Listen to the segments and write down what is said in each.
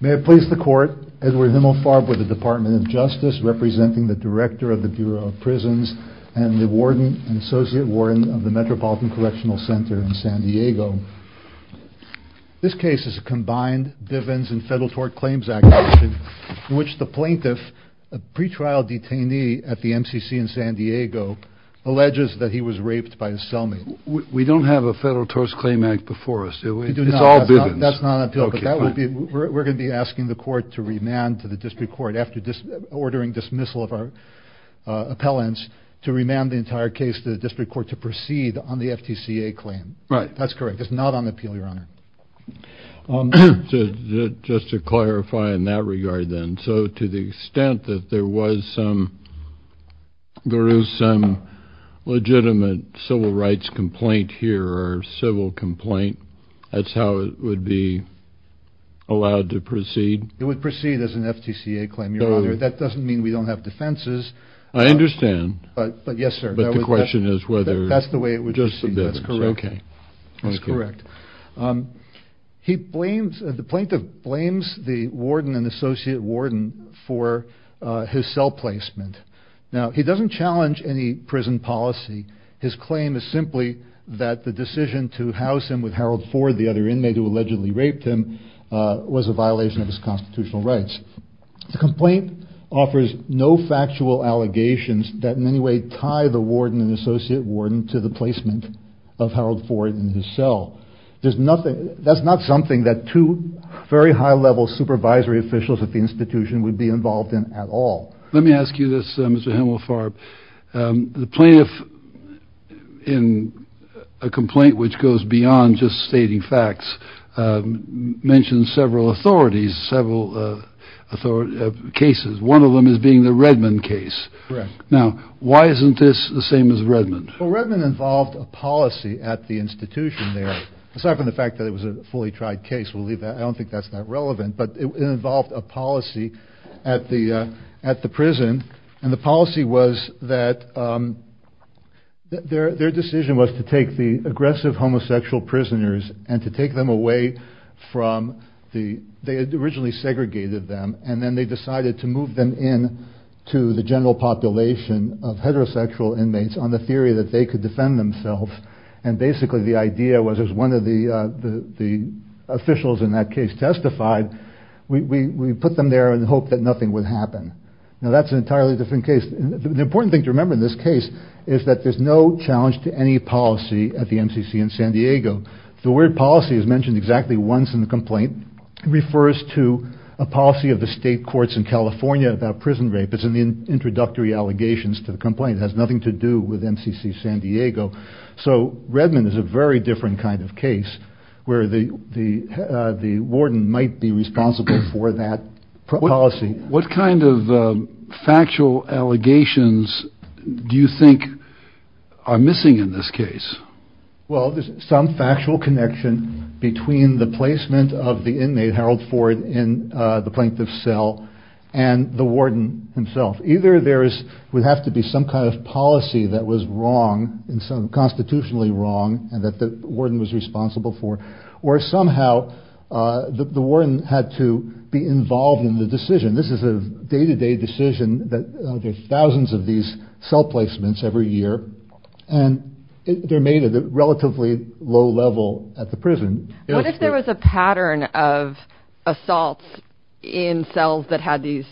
May it please the Court, Edward Himmelfarb with the Department of Justice, representing the Director of the Bureau of Prisons and the Warden and Associate Warden of the Metropolitan Correctional Center in San Diego. This case is a combined Bivens and Federal Tort Claims Act case in which the plaintiff, a pre-trial detainee at the MCC in San Diego, alleges that he was raped by his cellmate. We don't have a Federal Tort Claim Act before us, do we? It's all Bivens. That's not on appeal. But that would be, we're going to be asking the Court to remand to the District Court after ordering dismissal of our appellants to remand the entire case to the District Court to proceed on the FTCA claim. Right. That's correct. It's not on appeal, Your Honor. Just to clarify in that regard, then, so to the extent that there was some, there is some legitimate civil rights complaint here or civil complaint, that's how it would be allowed to proceed? It would proceed as an FTCA claim, Your Honor. That doesn't mean we don't have defenses. I understand. But, yes, sir. But the question is whether... That's the way it would proceed. That's correct. Okay. That's correct. So, he blames, the plaintiff blames the warden and associate warden for his cell placement. Now, he doesn't challenge any prison policy. His claim is simply that the decision to house him with Harold Ford, the other inmate who allegedly raped him, was a violation of his constitutional rights. The complaint offers no factual allegations that in any way tie the warden and associate There's nothing... That's not something that two very high-level supervisory officials at the institution would be involved in at all. Let me ask you this, Mr. Hemelfarb. The plaintiff, in a complaint which goes beyond just stating facts, mentions several authorities, several cases. One of them is being the Redmond case. Correct. Now, why isn't this the same as Redmond? Well, Redmond involved a policy at the institution there, aside from the fact that it was a fully tried case. We'll leave that. I don't think that's that relevant. But it involved a policy at the prison, and the policy was that their decision was to take the aggressive homosexual prisoners and to take them away from the... They had originally segregated them, and then they decided to move them in to the general population of heterosexual inmates on the theory that they could defend themselves. And basically, the idea was, as one of the officials in that case testified, we put them there in the hope that nothing would happen. Now, that's an entirely different case. The important thing to remember in this case is that there's no challenge to any policy at the MCC in San Diego. The word policy is mentioned exactly once in the complaint. It refers to a policy of the state courts in California about prison rape. It's in the introductory allegations to the complaint. It has nothing to do with MCC San Diego. So Redmond is a very different kind of case where the warden might be responsible for that policy. What kind of factual allegations do you think are missing in this case? Well, there's some factual connection between the placement of the inmate, Harold Ford, in the plaintiff's cell, and the warden himself. Either there would have to be some kind of policy that was wrong, constitutionally wrong, and that the warden was responsible for, or somehow the warden had to be involved in the decision. This is a day-to-day decision that there's thousands of these cell placements every year, and they're made at a relatively low level at the prison. What if there was a pattern of assaults in cells that had these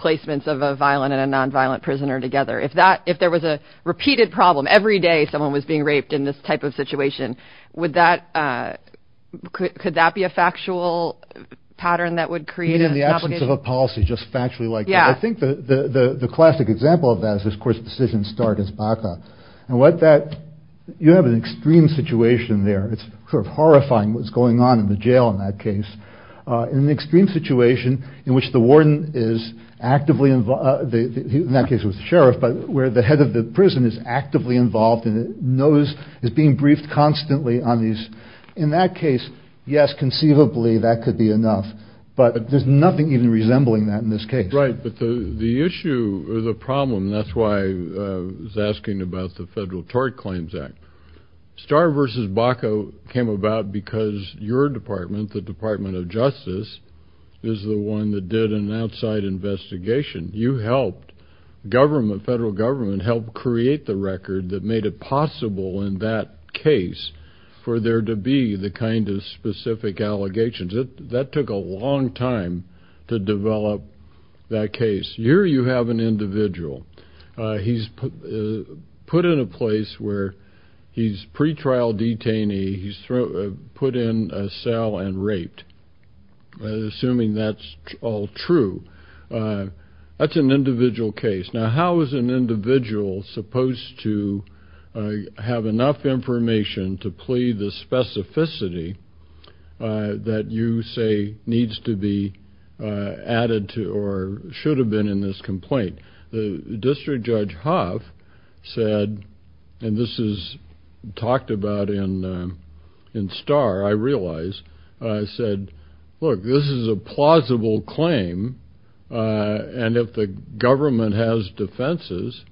placements of a violent and a nonviolent prisoner together? If there was a repeated problem every day, someone was being raped in this type of situation, could that be a factual pattern that would create an obligation? In the absence of a policy, just factually like that. I think the classic example of that is, of course, Decision Start is BACA. You have an extreme situation there. It's sort of horrifying what's going on in the jail in that case, in an extreme situation in which the warden is actively involved, in that case with the sheriff, but where the head of the prison is actively involved and is being briefed constantly on these. In that case, yes, conceivably that could be enough, but there's nothing even resembling that in this case. Right, but the issue or the problem, and that's why I was asking about the Federal Tort Claims STAR versus BACA came about because your department, the Department of Justice, is the one that did an outside investigation. You helped government, federal government, help create the record that made it possible in that case for there to be the kind of specific allegations. That took a long time to develop that case. Here you have an individual. He's put in a place where he's a pretrial detainee. He's put in a cell and raped, assuming that's all true. That's an individual case. Now, how is an individual supposed to have enough information to plea the specificity that you say needs to be added to or should have been in this complaint? The District Judge Hoff said, and this is talked about in STAR, I realize, said, look, this is a plausible claim, and if the government has defenses,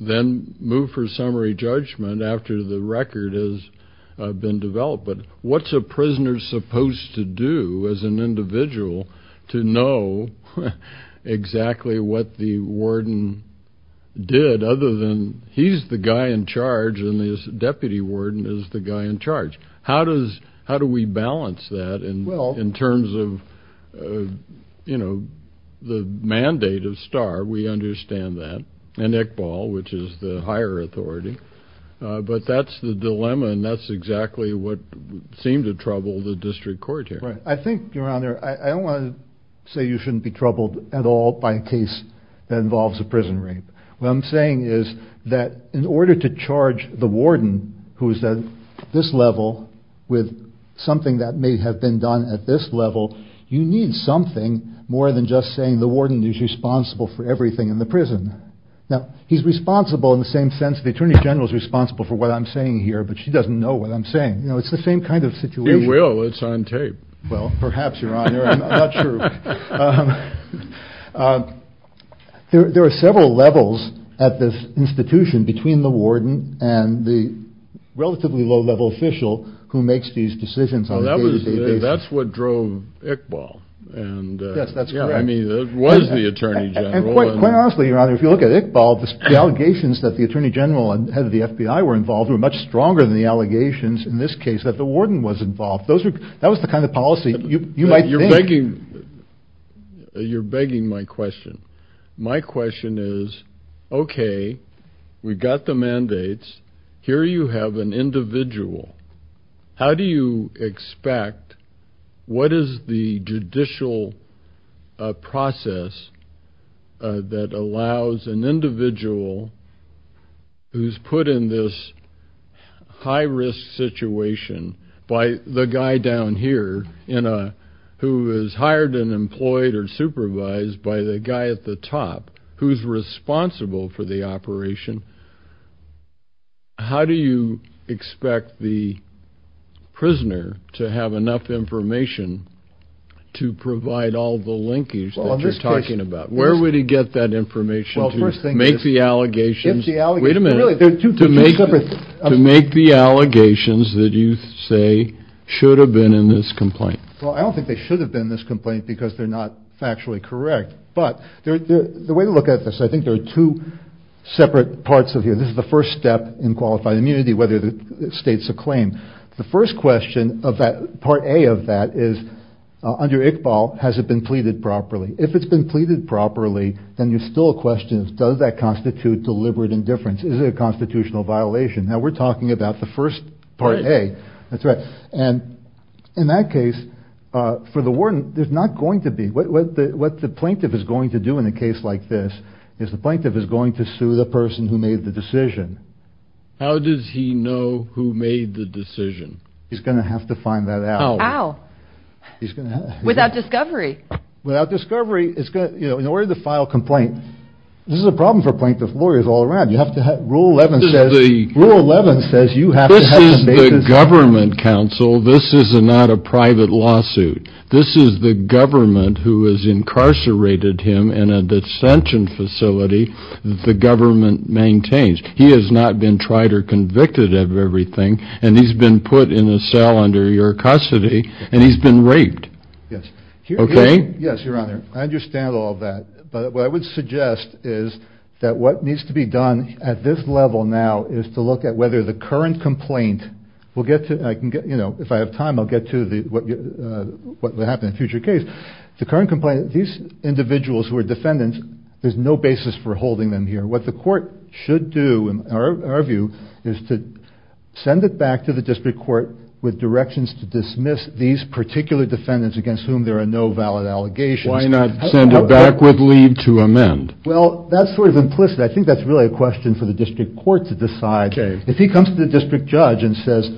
then move for summary judgment after the record has been developed. What's a prisoner supposed to do as an individual to know exactly what the warden did other than he's the guy in charge and the deputy warden is the guy in charge? How do we balance that in terms of the mandate of STAR? We understand that, and Iqbal, which is the higher authority, but that's the dilemma and that's exactly what seemed to trouble the District Court here. I think, Your Honor, I don't want to say you shouldn't be troubled at all by a case that involves a prison rape. What I'm saying is that in order to charge the warden, who is at this level, with something that may have been done at this level, you need something more than just saying the warden is responsible for everything in the prison. Now, he's responsible in the same sense the Attorney General is responsible for what I'm saying. It's the same kind of situation. He will. It's on tape. Well, perhaps, Your Honor, I'm not sure. There are several levels at this institution between the warden and the relatively low-level official who makes these decisions on a day-to-day basis. That's what drove Iqbal. Yes, that's correct. I mean, it was the Attorney General. Quite honestly, Your Honor, if you look at Iqbal, the allegations that the Attorney General and the head of the FBI were involved were much stronger than the allegations in this case that the warden was involved. That was the kind of policy you might think. You're begging my question. My question is, okay, we've got the mandates. Here you have an individual. How do you expect, what is the judicial process that allows an individual who's put in this high-risk situation by the guy down here who is hired and employed or supervised by the guy at the top who's responsible for the operation, how do you expect the prisoner to have enough information to provide all the linkage that you're talking about? Where would he get that information to make the allegations that you say should have been in this complaint? Well, I don't think they should have been in this complaint because they're not factually correct. But the way to look at this, I think there are two separate parts of here. This is the first step in qualified immunity, whether the state's a claim. The first question of that, part A of that is, under Iqbal, has it been pleaded properly? If it's been pleaded properly, then you're still a question of does that constitute deliberate indifference? Is it a constitutional violation? Now, we're talking about the first part A. That's right. And in that case, for the warden, there's not going to be. What the plaintiff is going to do in a case like this is the plaintiff is going to sue the person who made the decision. How does he know who made the decision? He's going to have to find that out. How? Without discovery. Without discovery, in order to file a complaint, this is a problem for plaintiff lawyers all around. Rule 11 says you have to have the basis. For the government counsel, this is not a private lawsuit. This is the government who has incarcerated him in a dissension facility the government maintains. He has not been tried or convicted of everything, and he's been put in a cell under your custody, and he's been raped. Yes. Okay? Yes, Your Honor. I understand all of that. But what I would suggest is that what needs to be done at this level now is to look at whether the current complaint will get to, you know, if I have time, I'll get to what will happen in a future case. The current complaint, these individuals who are defendants, there's no basis for holding them here. What the court should do, in our view, is to send it back to the district court with directions to dismiss these particular defendants against whom there are no valid allegations. Why not send it back with leave to amend? Well, that's sort of implicit. I think that's really a question for the district court to decide. Okay. If he comes to the district judge and says,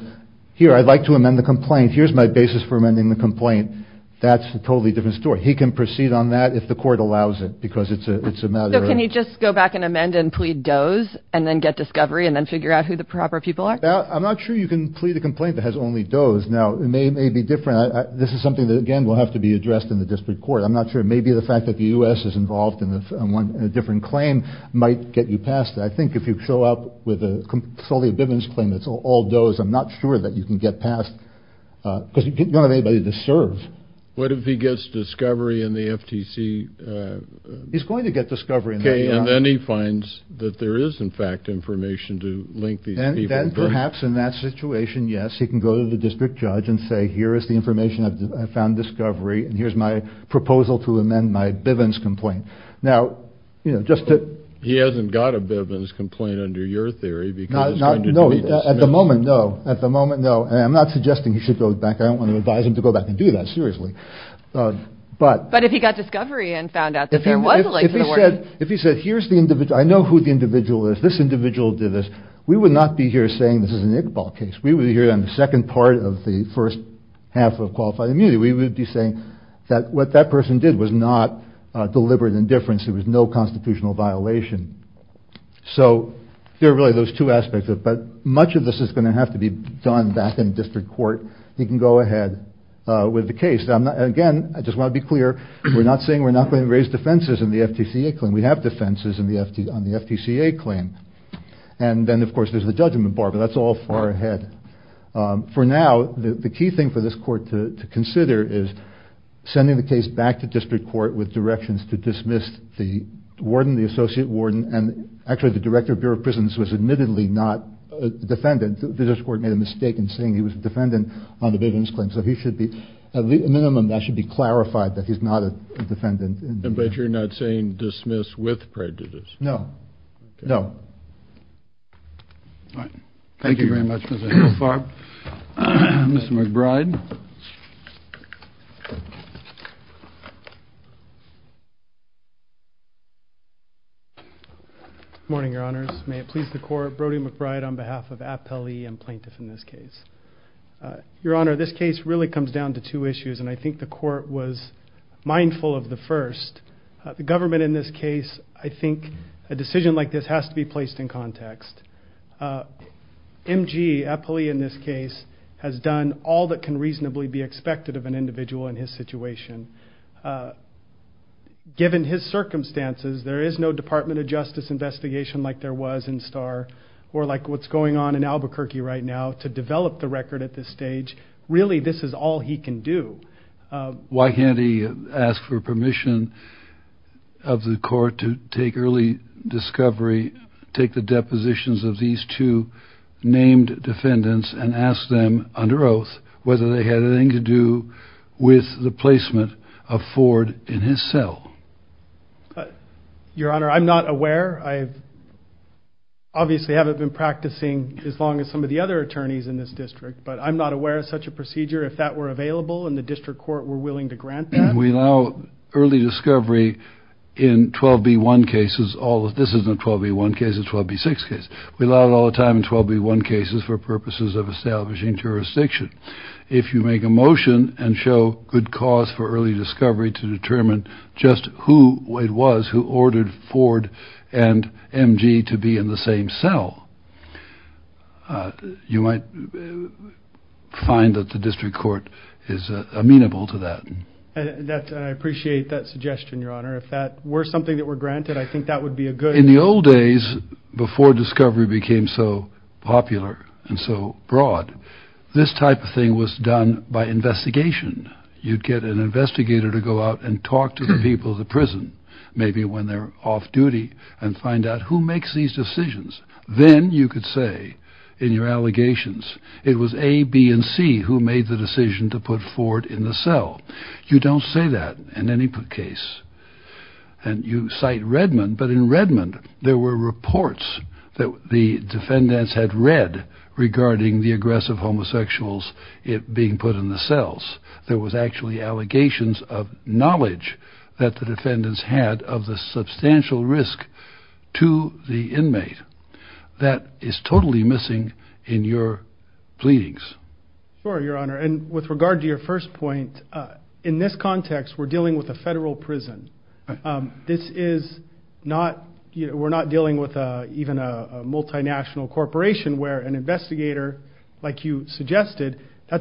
here, I'd like to amend the complaint, here's my basis for amending the complaint, that's a totally different story. He can proceed on that if the court allows it, because it's a matter of... So can he just go back and amend and plead does, and then get discovery, and then figure out who the proper people are? I'm not sure you can plead a complaint that has only does. Now, it may be different. This is something that, again, will have to be addressed in the district court. I'm not sure. Maybe the fact that the U.S. is involved in a different claim might get you past it. I think if you show up with a solely a Bivens claim that's all does, I'm not sure that you can get past, because you don't have anybody to serve. What if he gets discovery in the FTC? He's going to get discovery. Okay. And then he finds that there is, in fact, information to link these people. Then perhaps in that situation, yes, he can go to the district judge and say, here is the information. I found discovery, and here's my proposal to amend my Bivens complaint. Now, you know, just to... He hasn't got a Bivens complaint under your theory, because he's trying to do a dismissal. No. At the moment, no. At the moment, no. And I'm not suggesting he should go back. I don't want to advise him to go back and do that. Seriously. But... But if he got discovery and found out that there was a link to the word... If he said, here's the individual, I know who the individual is. This individual did this. We would not be here saying this is an Iqbal case. We would be here on the second part of the first half of Qualified Immunity. We would be saying that what that person did was not deliberate indifference. It was no constitutional violation. So there are really those two aspects. But much of this is going to have to be done back in district court. He can go ahead with the case. Again, I just want to be clear, we're not saying we're not going to raise defenses in the FTCA claim. We have defenses on the FTCA claim. And then, of course, there's the judgment bar, but that's all far ahead. For now, the key thing for this court to consider is sending the case back to district court with directions to dismiss the warden, the associate warden, and actually the director of Bureau of Prisons was admittedly not a defendant. The district court made a mistake in saying he was a defendant on the Bivens claim. So he should be... At a minimum, that should be clarified, that he's not a defendant. But you're not saying dismiss with prejudice? No. All right. Thank you very much, Mr. Chairman. Thank you, Mr. Farb. Mr. McBride. Good morning, Your Honors. May it please the court, Brody McBride on behalf of Appellee and Plaintiff in this case. Your Honor, this case really comes down to two issues, and I think the court was mindful of the first. The government in this case, I think a decision like this has to be placed in context. MG, Appellee in this case, has done all that can reasonably be expected of an individual in his situation. Given his circumstances, there is no Department of Justice investigation like there was in Starr or like what's going on in Albuquerque right now to develop the record at this stage. Really this is all he can do. Why can't he ask for permission of the court to take early discovery, take the depositions of these two named defendants and ask them under oath whether they had anything to do with the placement of Ford in his cell? Your Honor, I'm not aware. I obviously haven't been practicing as long as some of the other attorneys in this district, but I'm not aware of such a procedure. If that were available and the district court were willing to grant that? We allow early discovery in 12B1 cases. This isn't a 12B1 case. It's a 12B6 case. We allow it all the time in 12B1 cases for purposes of establishing jurisdiction. If you make a motion and show good cause for early discovery to determine just who it was who ordered Ford and MG to be in the same cell, you might find that the district court is amenable to that. I appreciate that suggestion, Your Honor. If that were something that were granted, I think that would be a good... In the old days before discovery became so popular and so broad, this type of thing was done by investigation. You'd get an investigator to go out and talk to the people of the prison. Maybe when they're off duty and find out who makes these decisions. Then you could say in your allegations, it was A, B, and C who made the decision to put Ford in the cell. You don't say that in any case. You cite Redmond, but in Redmond there were reports that the defendants had read regarding the aggressive homosexuals being put in the cells. There was actually allegations of knowledge that the defendants had of the substantial risk to the inmate. That is totally missing in your pleadings. Sure, Your Honor. With regard to your first point, in this context we're dealing with a federal prison. This is not... We're not dealing with even a multinational corporation where an investigator, like you are, has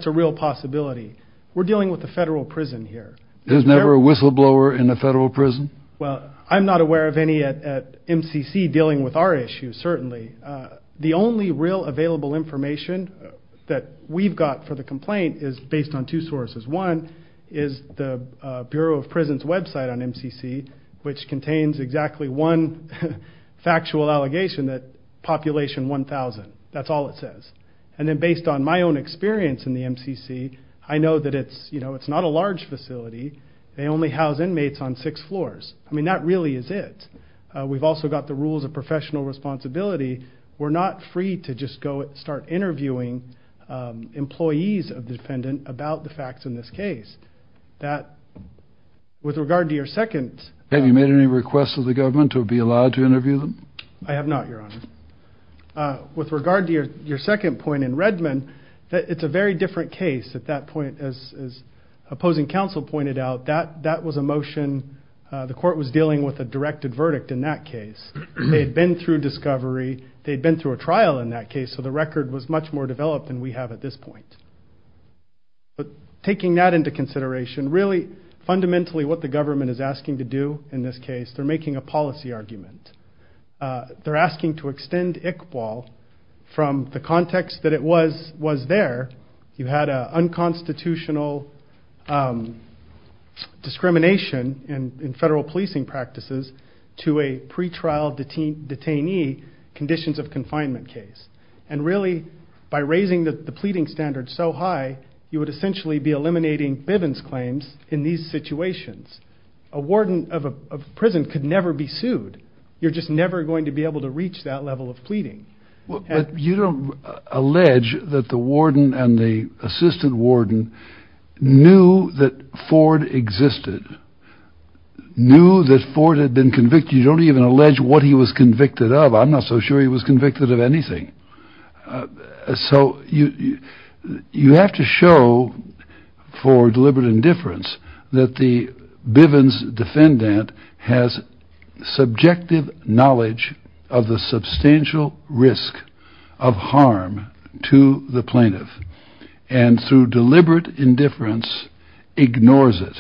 the possibility. We're dealing with a federal prison here. There's never a whistleblower in a federal prison? Well, I'm not aware of any at MCC dealing with our issues, certainly. The only real available information that we've got for the complaint is based on two sources. One is the Bureau of Prisons website on MCC, which contains exactly one factual allegation that population 1,000. That's all it says. And then based on my own experience in the MCC, I know that it's not a large facility. They only house inmates on six floors. I mean, that really is it. We've also got the rules of professional responsibility. We're not free to just go and start interviewing employees of the defendant about the facts in this case. With regard to your second... Have you made any requests of the government to be allowed to interview them? I have not, Your Honor. With regard to your second point in Redmond, it's a very different case at that point. As opposing counsel pointed out, that was a motion. The court was dealing with a directed verdict in that case. They'd been through discovery. They'd been through a trial in that case. So the record was much more developed than we have at this point. But taking that into consideration, really, fundamentally what the government is asking to do in this case, they're making a policy argument. They're asking to extend ICPOL from the context that it was there. You had an unconstitutional discrimination in federal policing practices to a pretrial detainee conditions of confinement case. And really, by raising the pleading standard so high, you would essentially be eliminating Bivens' claims in these situations. A warden of a prison could never be sued. You're just never going to be able to reach that level of pleading. But you don't allege that the warden and the assistant warden knew that Ford existed, knew that Ford had been convicted. You don't even allege what he was convicted of. I'm not so sure he was convicted of anything. So you have to show for deliberate indifference that the Bivens defendant has subjective knowledge of the substantial risk of harm to the plaintiff and through deliberate indifference ignores it.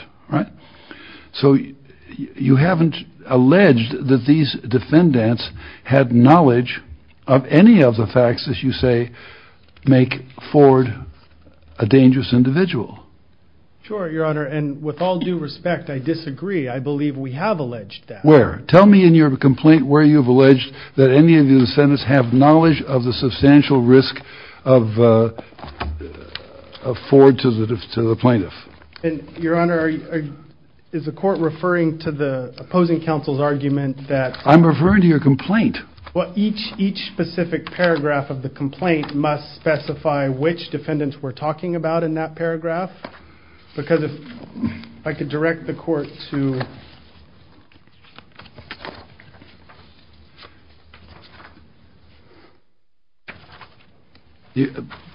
So you haven't alleged that these defendants had knowledge of any of the facts that you say make Ford a dangerous individual. Sure, Your Honor. And with all due respect, I disagree. I believe we have alleged that. Where? Tell me in your complaint where you've alleged that any of the defendants have knowledge of the substantial risk of Ford to the plaintiff. And Your Honor, is the court referring to the opposing counsel's argument that? I'm referring to your complaint. Well, each specific paragraph of the complaint must specify which defendants we're talking about in that paragraph. Because if I could direct the court to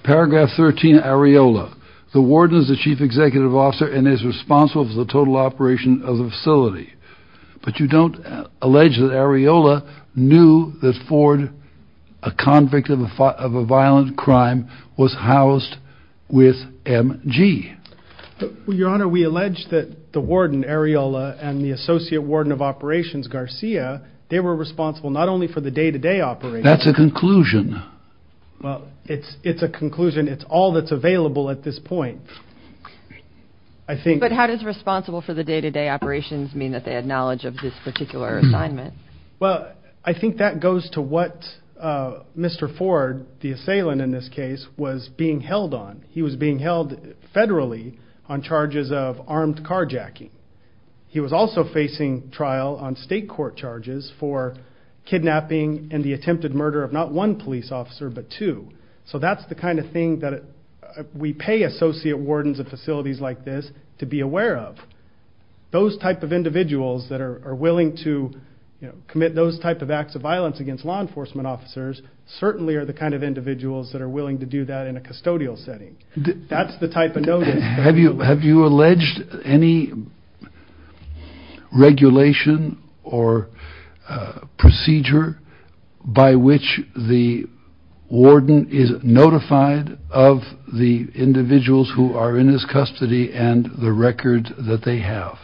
paragraph 13 areola. The warden is the chief executive officer and is responsible for the total operation of the facility. But you don't allege that areola knew that Ford, a convict of a violent crime, was housed with MG. Your Honor, we allege that the warden areola and the associate warden of operations Garcia, they were responsible not only for the day to day operation. That's a conclusion. Well, it's a conclusion. It's all that's available at this point. I think. But how does responsible for the day to day operations mean that they had knowledge of this particular assignment? Well, I think that goes to what Mr. Ford, the assailant in this case, was being held on. He was being held federally on charges of armed carjacking. He was also facing trial on state court charges for kidnapping and the attempted murder of not one police officer but two. So that's the kind of thing that we pay associate wardens of facilities like this to be aware of. Those type of individuals that are willing to commit those type of acts of violence against law enforcement officers certainly are the kind of individuals that are willing to do that in a custodial setting. That's the type of notice. Have you have you alleged any regulation or procedure by which the warden is notified of the individuals who are in his custody and the record that they have?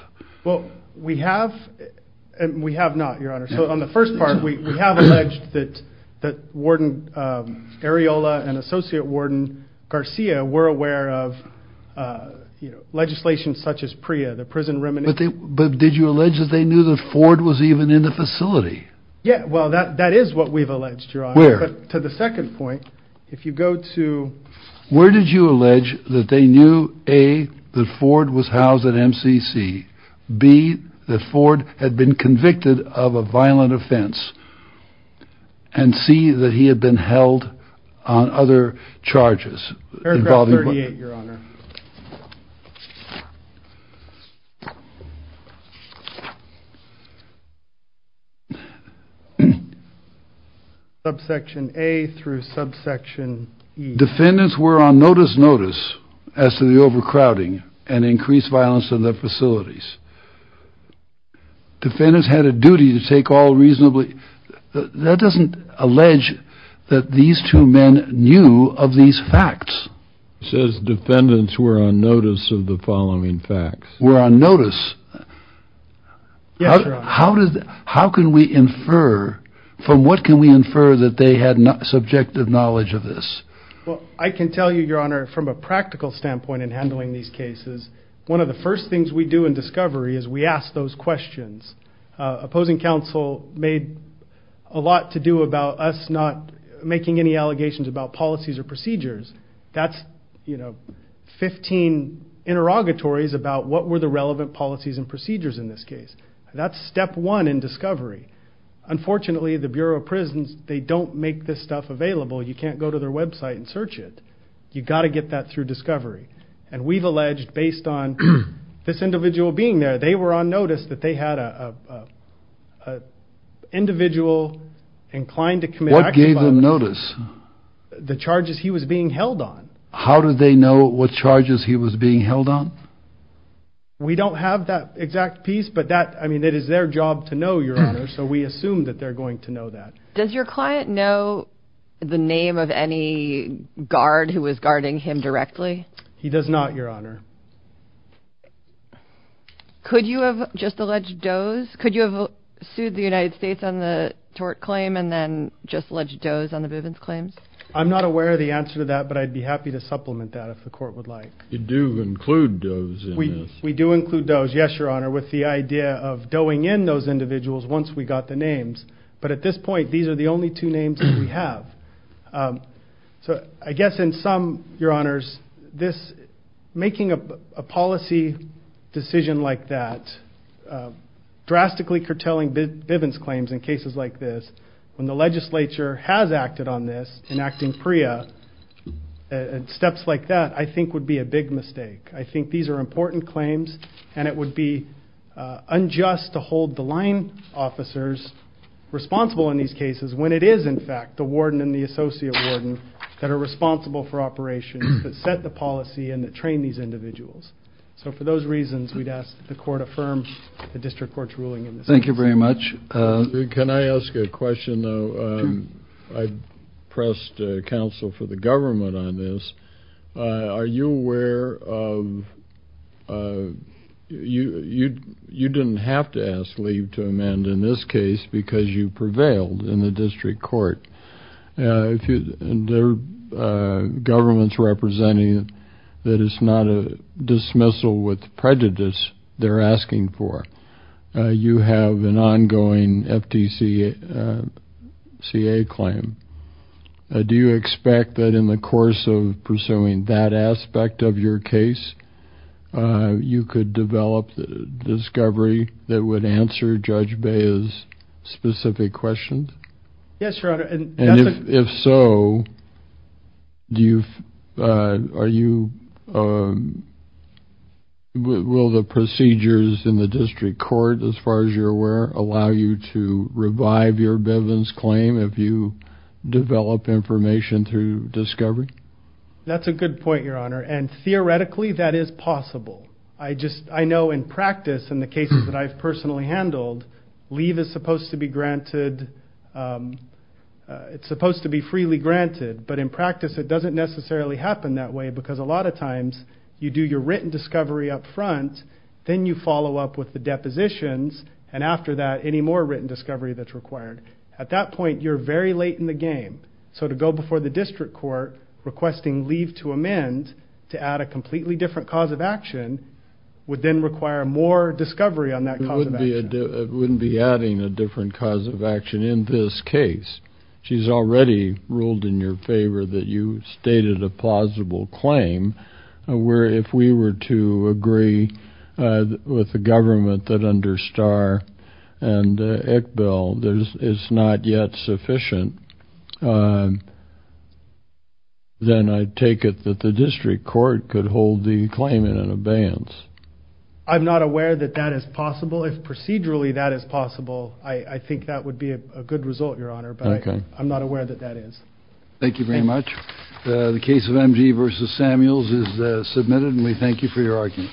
Well, we have and we have not, Your Honor. So on the first part, we have alleged that that Warden Areola and Associate Warden Garcia were aware of legislation such as PREA, the prison remuneration. But did you allege that they knew that Ford was even in the facility? Yeah, well, that is what we've alleged, Your Honor. Where? To the second point, if you go to... Where did you allege that they knew, A, that Ford was housed at MCC, B, that Ford had been convicted of a violent offense, and C, that he had been held on other charges involving... Aircraft 38, Your Honor. Subsection A through subsection E. Defendants were on notice notice as to the overcrowding and increased violence in the facilities. Defendants had a duty to take all reasonably... That doesn't allege that these two men knew of these facts. It says defendants were on notice of the following facts. Were on notice. Yes, Your Honor. How can we infer, from what can we infer that they had subjective knowledge of this? Well, I can tell you, Your Honor, from a practical standpoint in handling these cases, one of the first things we do in discovery is we ask those questions. Opposing counsel made a lot to do about us not making any allegations about policies or procedures. That's 15 interrogatories about what were the relevant policies and procedures in this case. That's step one in discovery. Unfortunately, the Bureau of Prisons, they don't make this stuff available. You can't go to their website and search it. You got to get that through discovery. And we've alleged, based on this individual being there, they were on notice that they had a individual inclined to commit... What gave them notice? The charges he was being held on. How did they know what charges he was being held on? We don't have that exact piece, but that, I mean, it is their job to know, Your Honor. So we assume that they're going to know that. Does your client know the name of any guard who was guarding him directly? He does not, Your Honor. Could you have just alleged does? Could you have sued the United States on the tort claim and then just alleged does on the Bivens claims? I'm not aware of the answer to that, but I'd be happy to supplement that if the court would like. You do include does in this? We do include does, yes, Your Honor, with the idea of doing in those individuals once we got the names. But at this point, these are the only two names that we have. So I guess in some, Your Honors, making a policy decision like that, drastically curtailing Bivens claims in cases like this, when the legislature has acted on this, enacting PREA and steps like that, I think would be a big mistake. I think these are important claims, and it would be unjust to hold the line officers responsible in these cases when it is, in fact, the warden and the associate warden that are responsible for operations that set the policy and that train these individuals. So for those reasons, we'd ask the court affirm the district court's ruling in this instance. Thank you very much. Can I ask a question, though? I pressed counsel for the government on this. Are you aware of... You didn't have to ask leave to amend in this case because you prevailed in the district court. The government's representing that it's not a dismissal with prejudice they're asking for. You have an ongoing FTCA claim. Do you expect that in the course of pursuing that aspect of your case, you could develop the discovery that would answer Judge Bea's specific questions? Yes, Your Honor. If so, will the procedures in the district court, as far as you're aware, allow you to revive your Bivens claim if you develop information through discovery? That's a good point, Your Honor. Theoretically, that is possible. I know in practice, in the cases that I've personally handled, leave is supposed to be freely granted. But in practice, it doesn't necessarily happen that way because a lot of times, you do your written discovery up front, then you follow up with the depositions, and after that, any more written discovery that's required. At that point, you're very late in the game. So to go before the district court requesting leave to amend, to add a completely different cause of action, would then require more discovery on that cause of action. It wouldn't be adding a different cause of action in this case. She's already ruled in your favor that you stated a plausible claim where if we were to agree with the government that under Starr and Iqbal, it's not yet sufficient, then I'd take it that the district court could hold the claimant in abeyance. I'm not aware that that is possible. If procedurally that is possible, I think that would be a good result, Your Honor. But I'm not aware that that is. Thank you very much. The case of MG versus Samuels is submitted, and we thank you for your argument.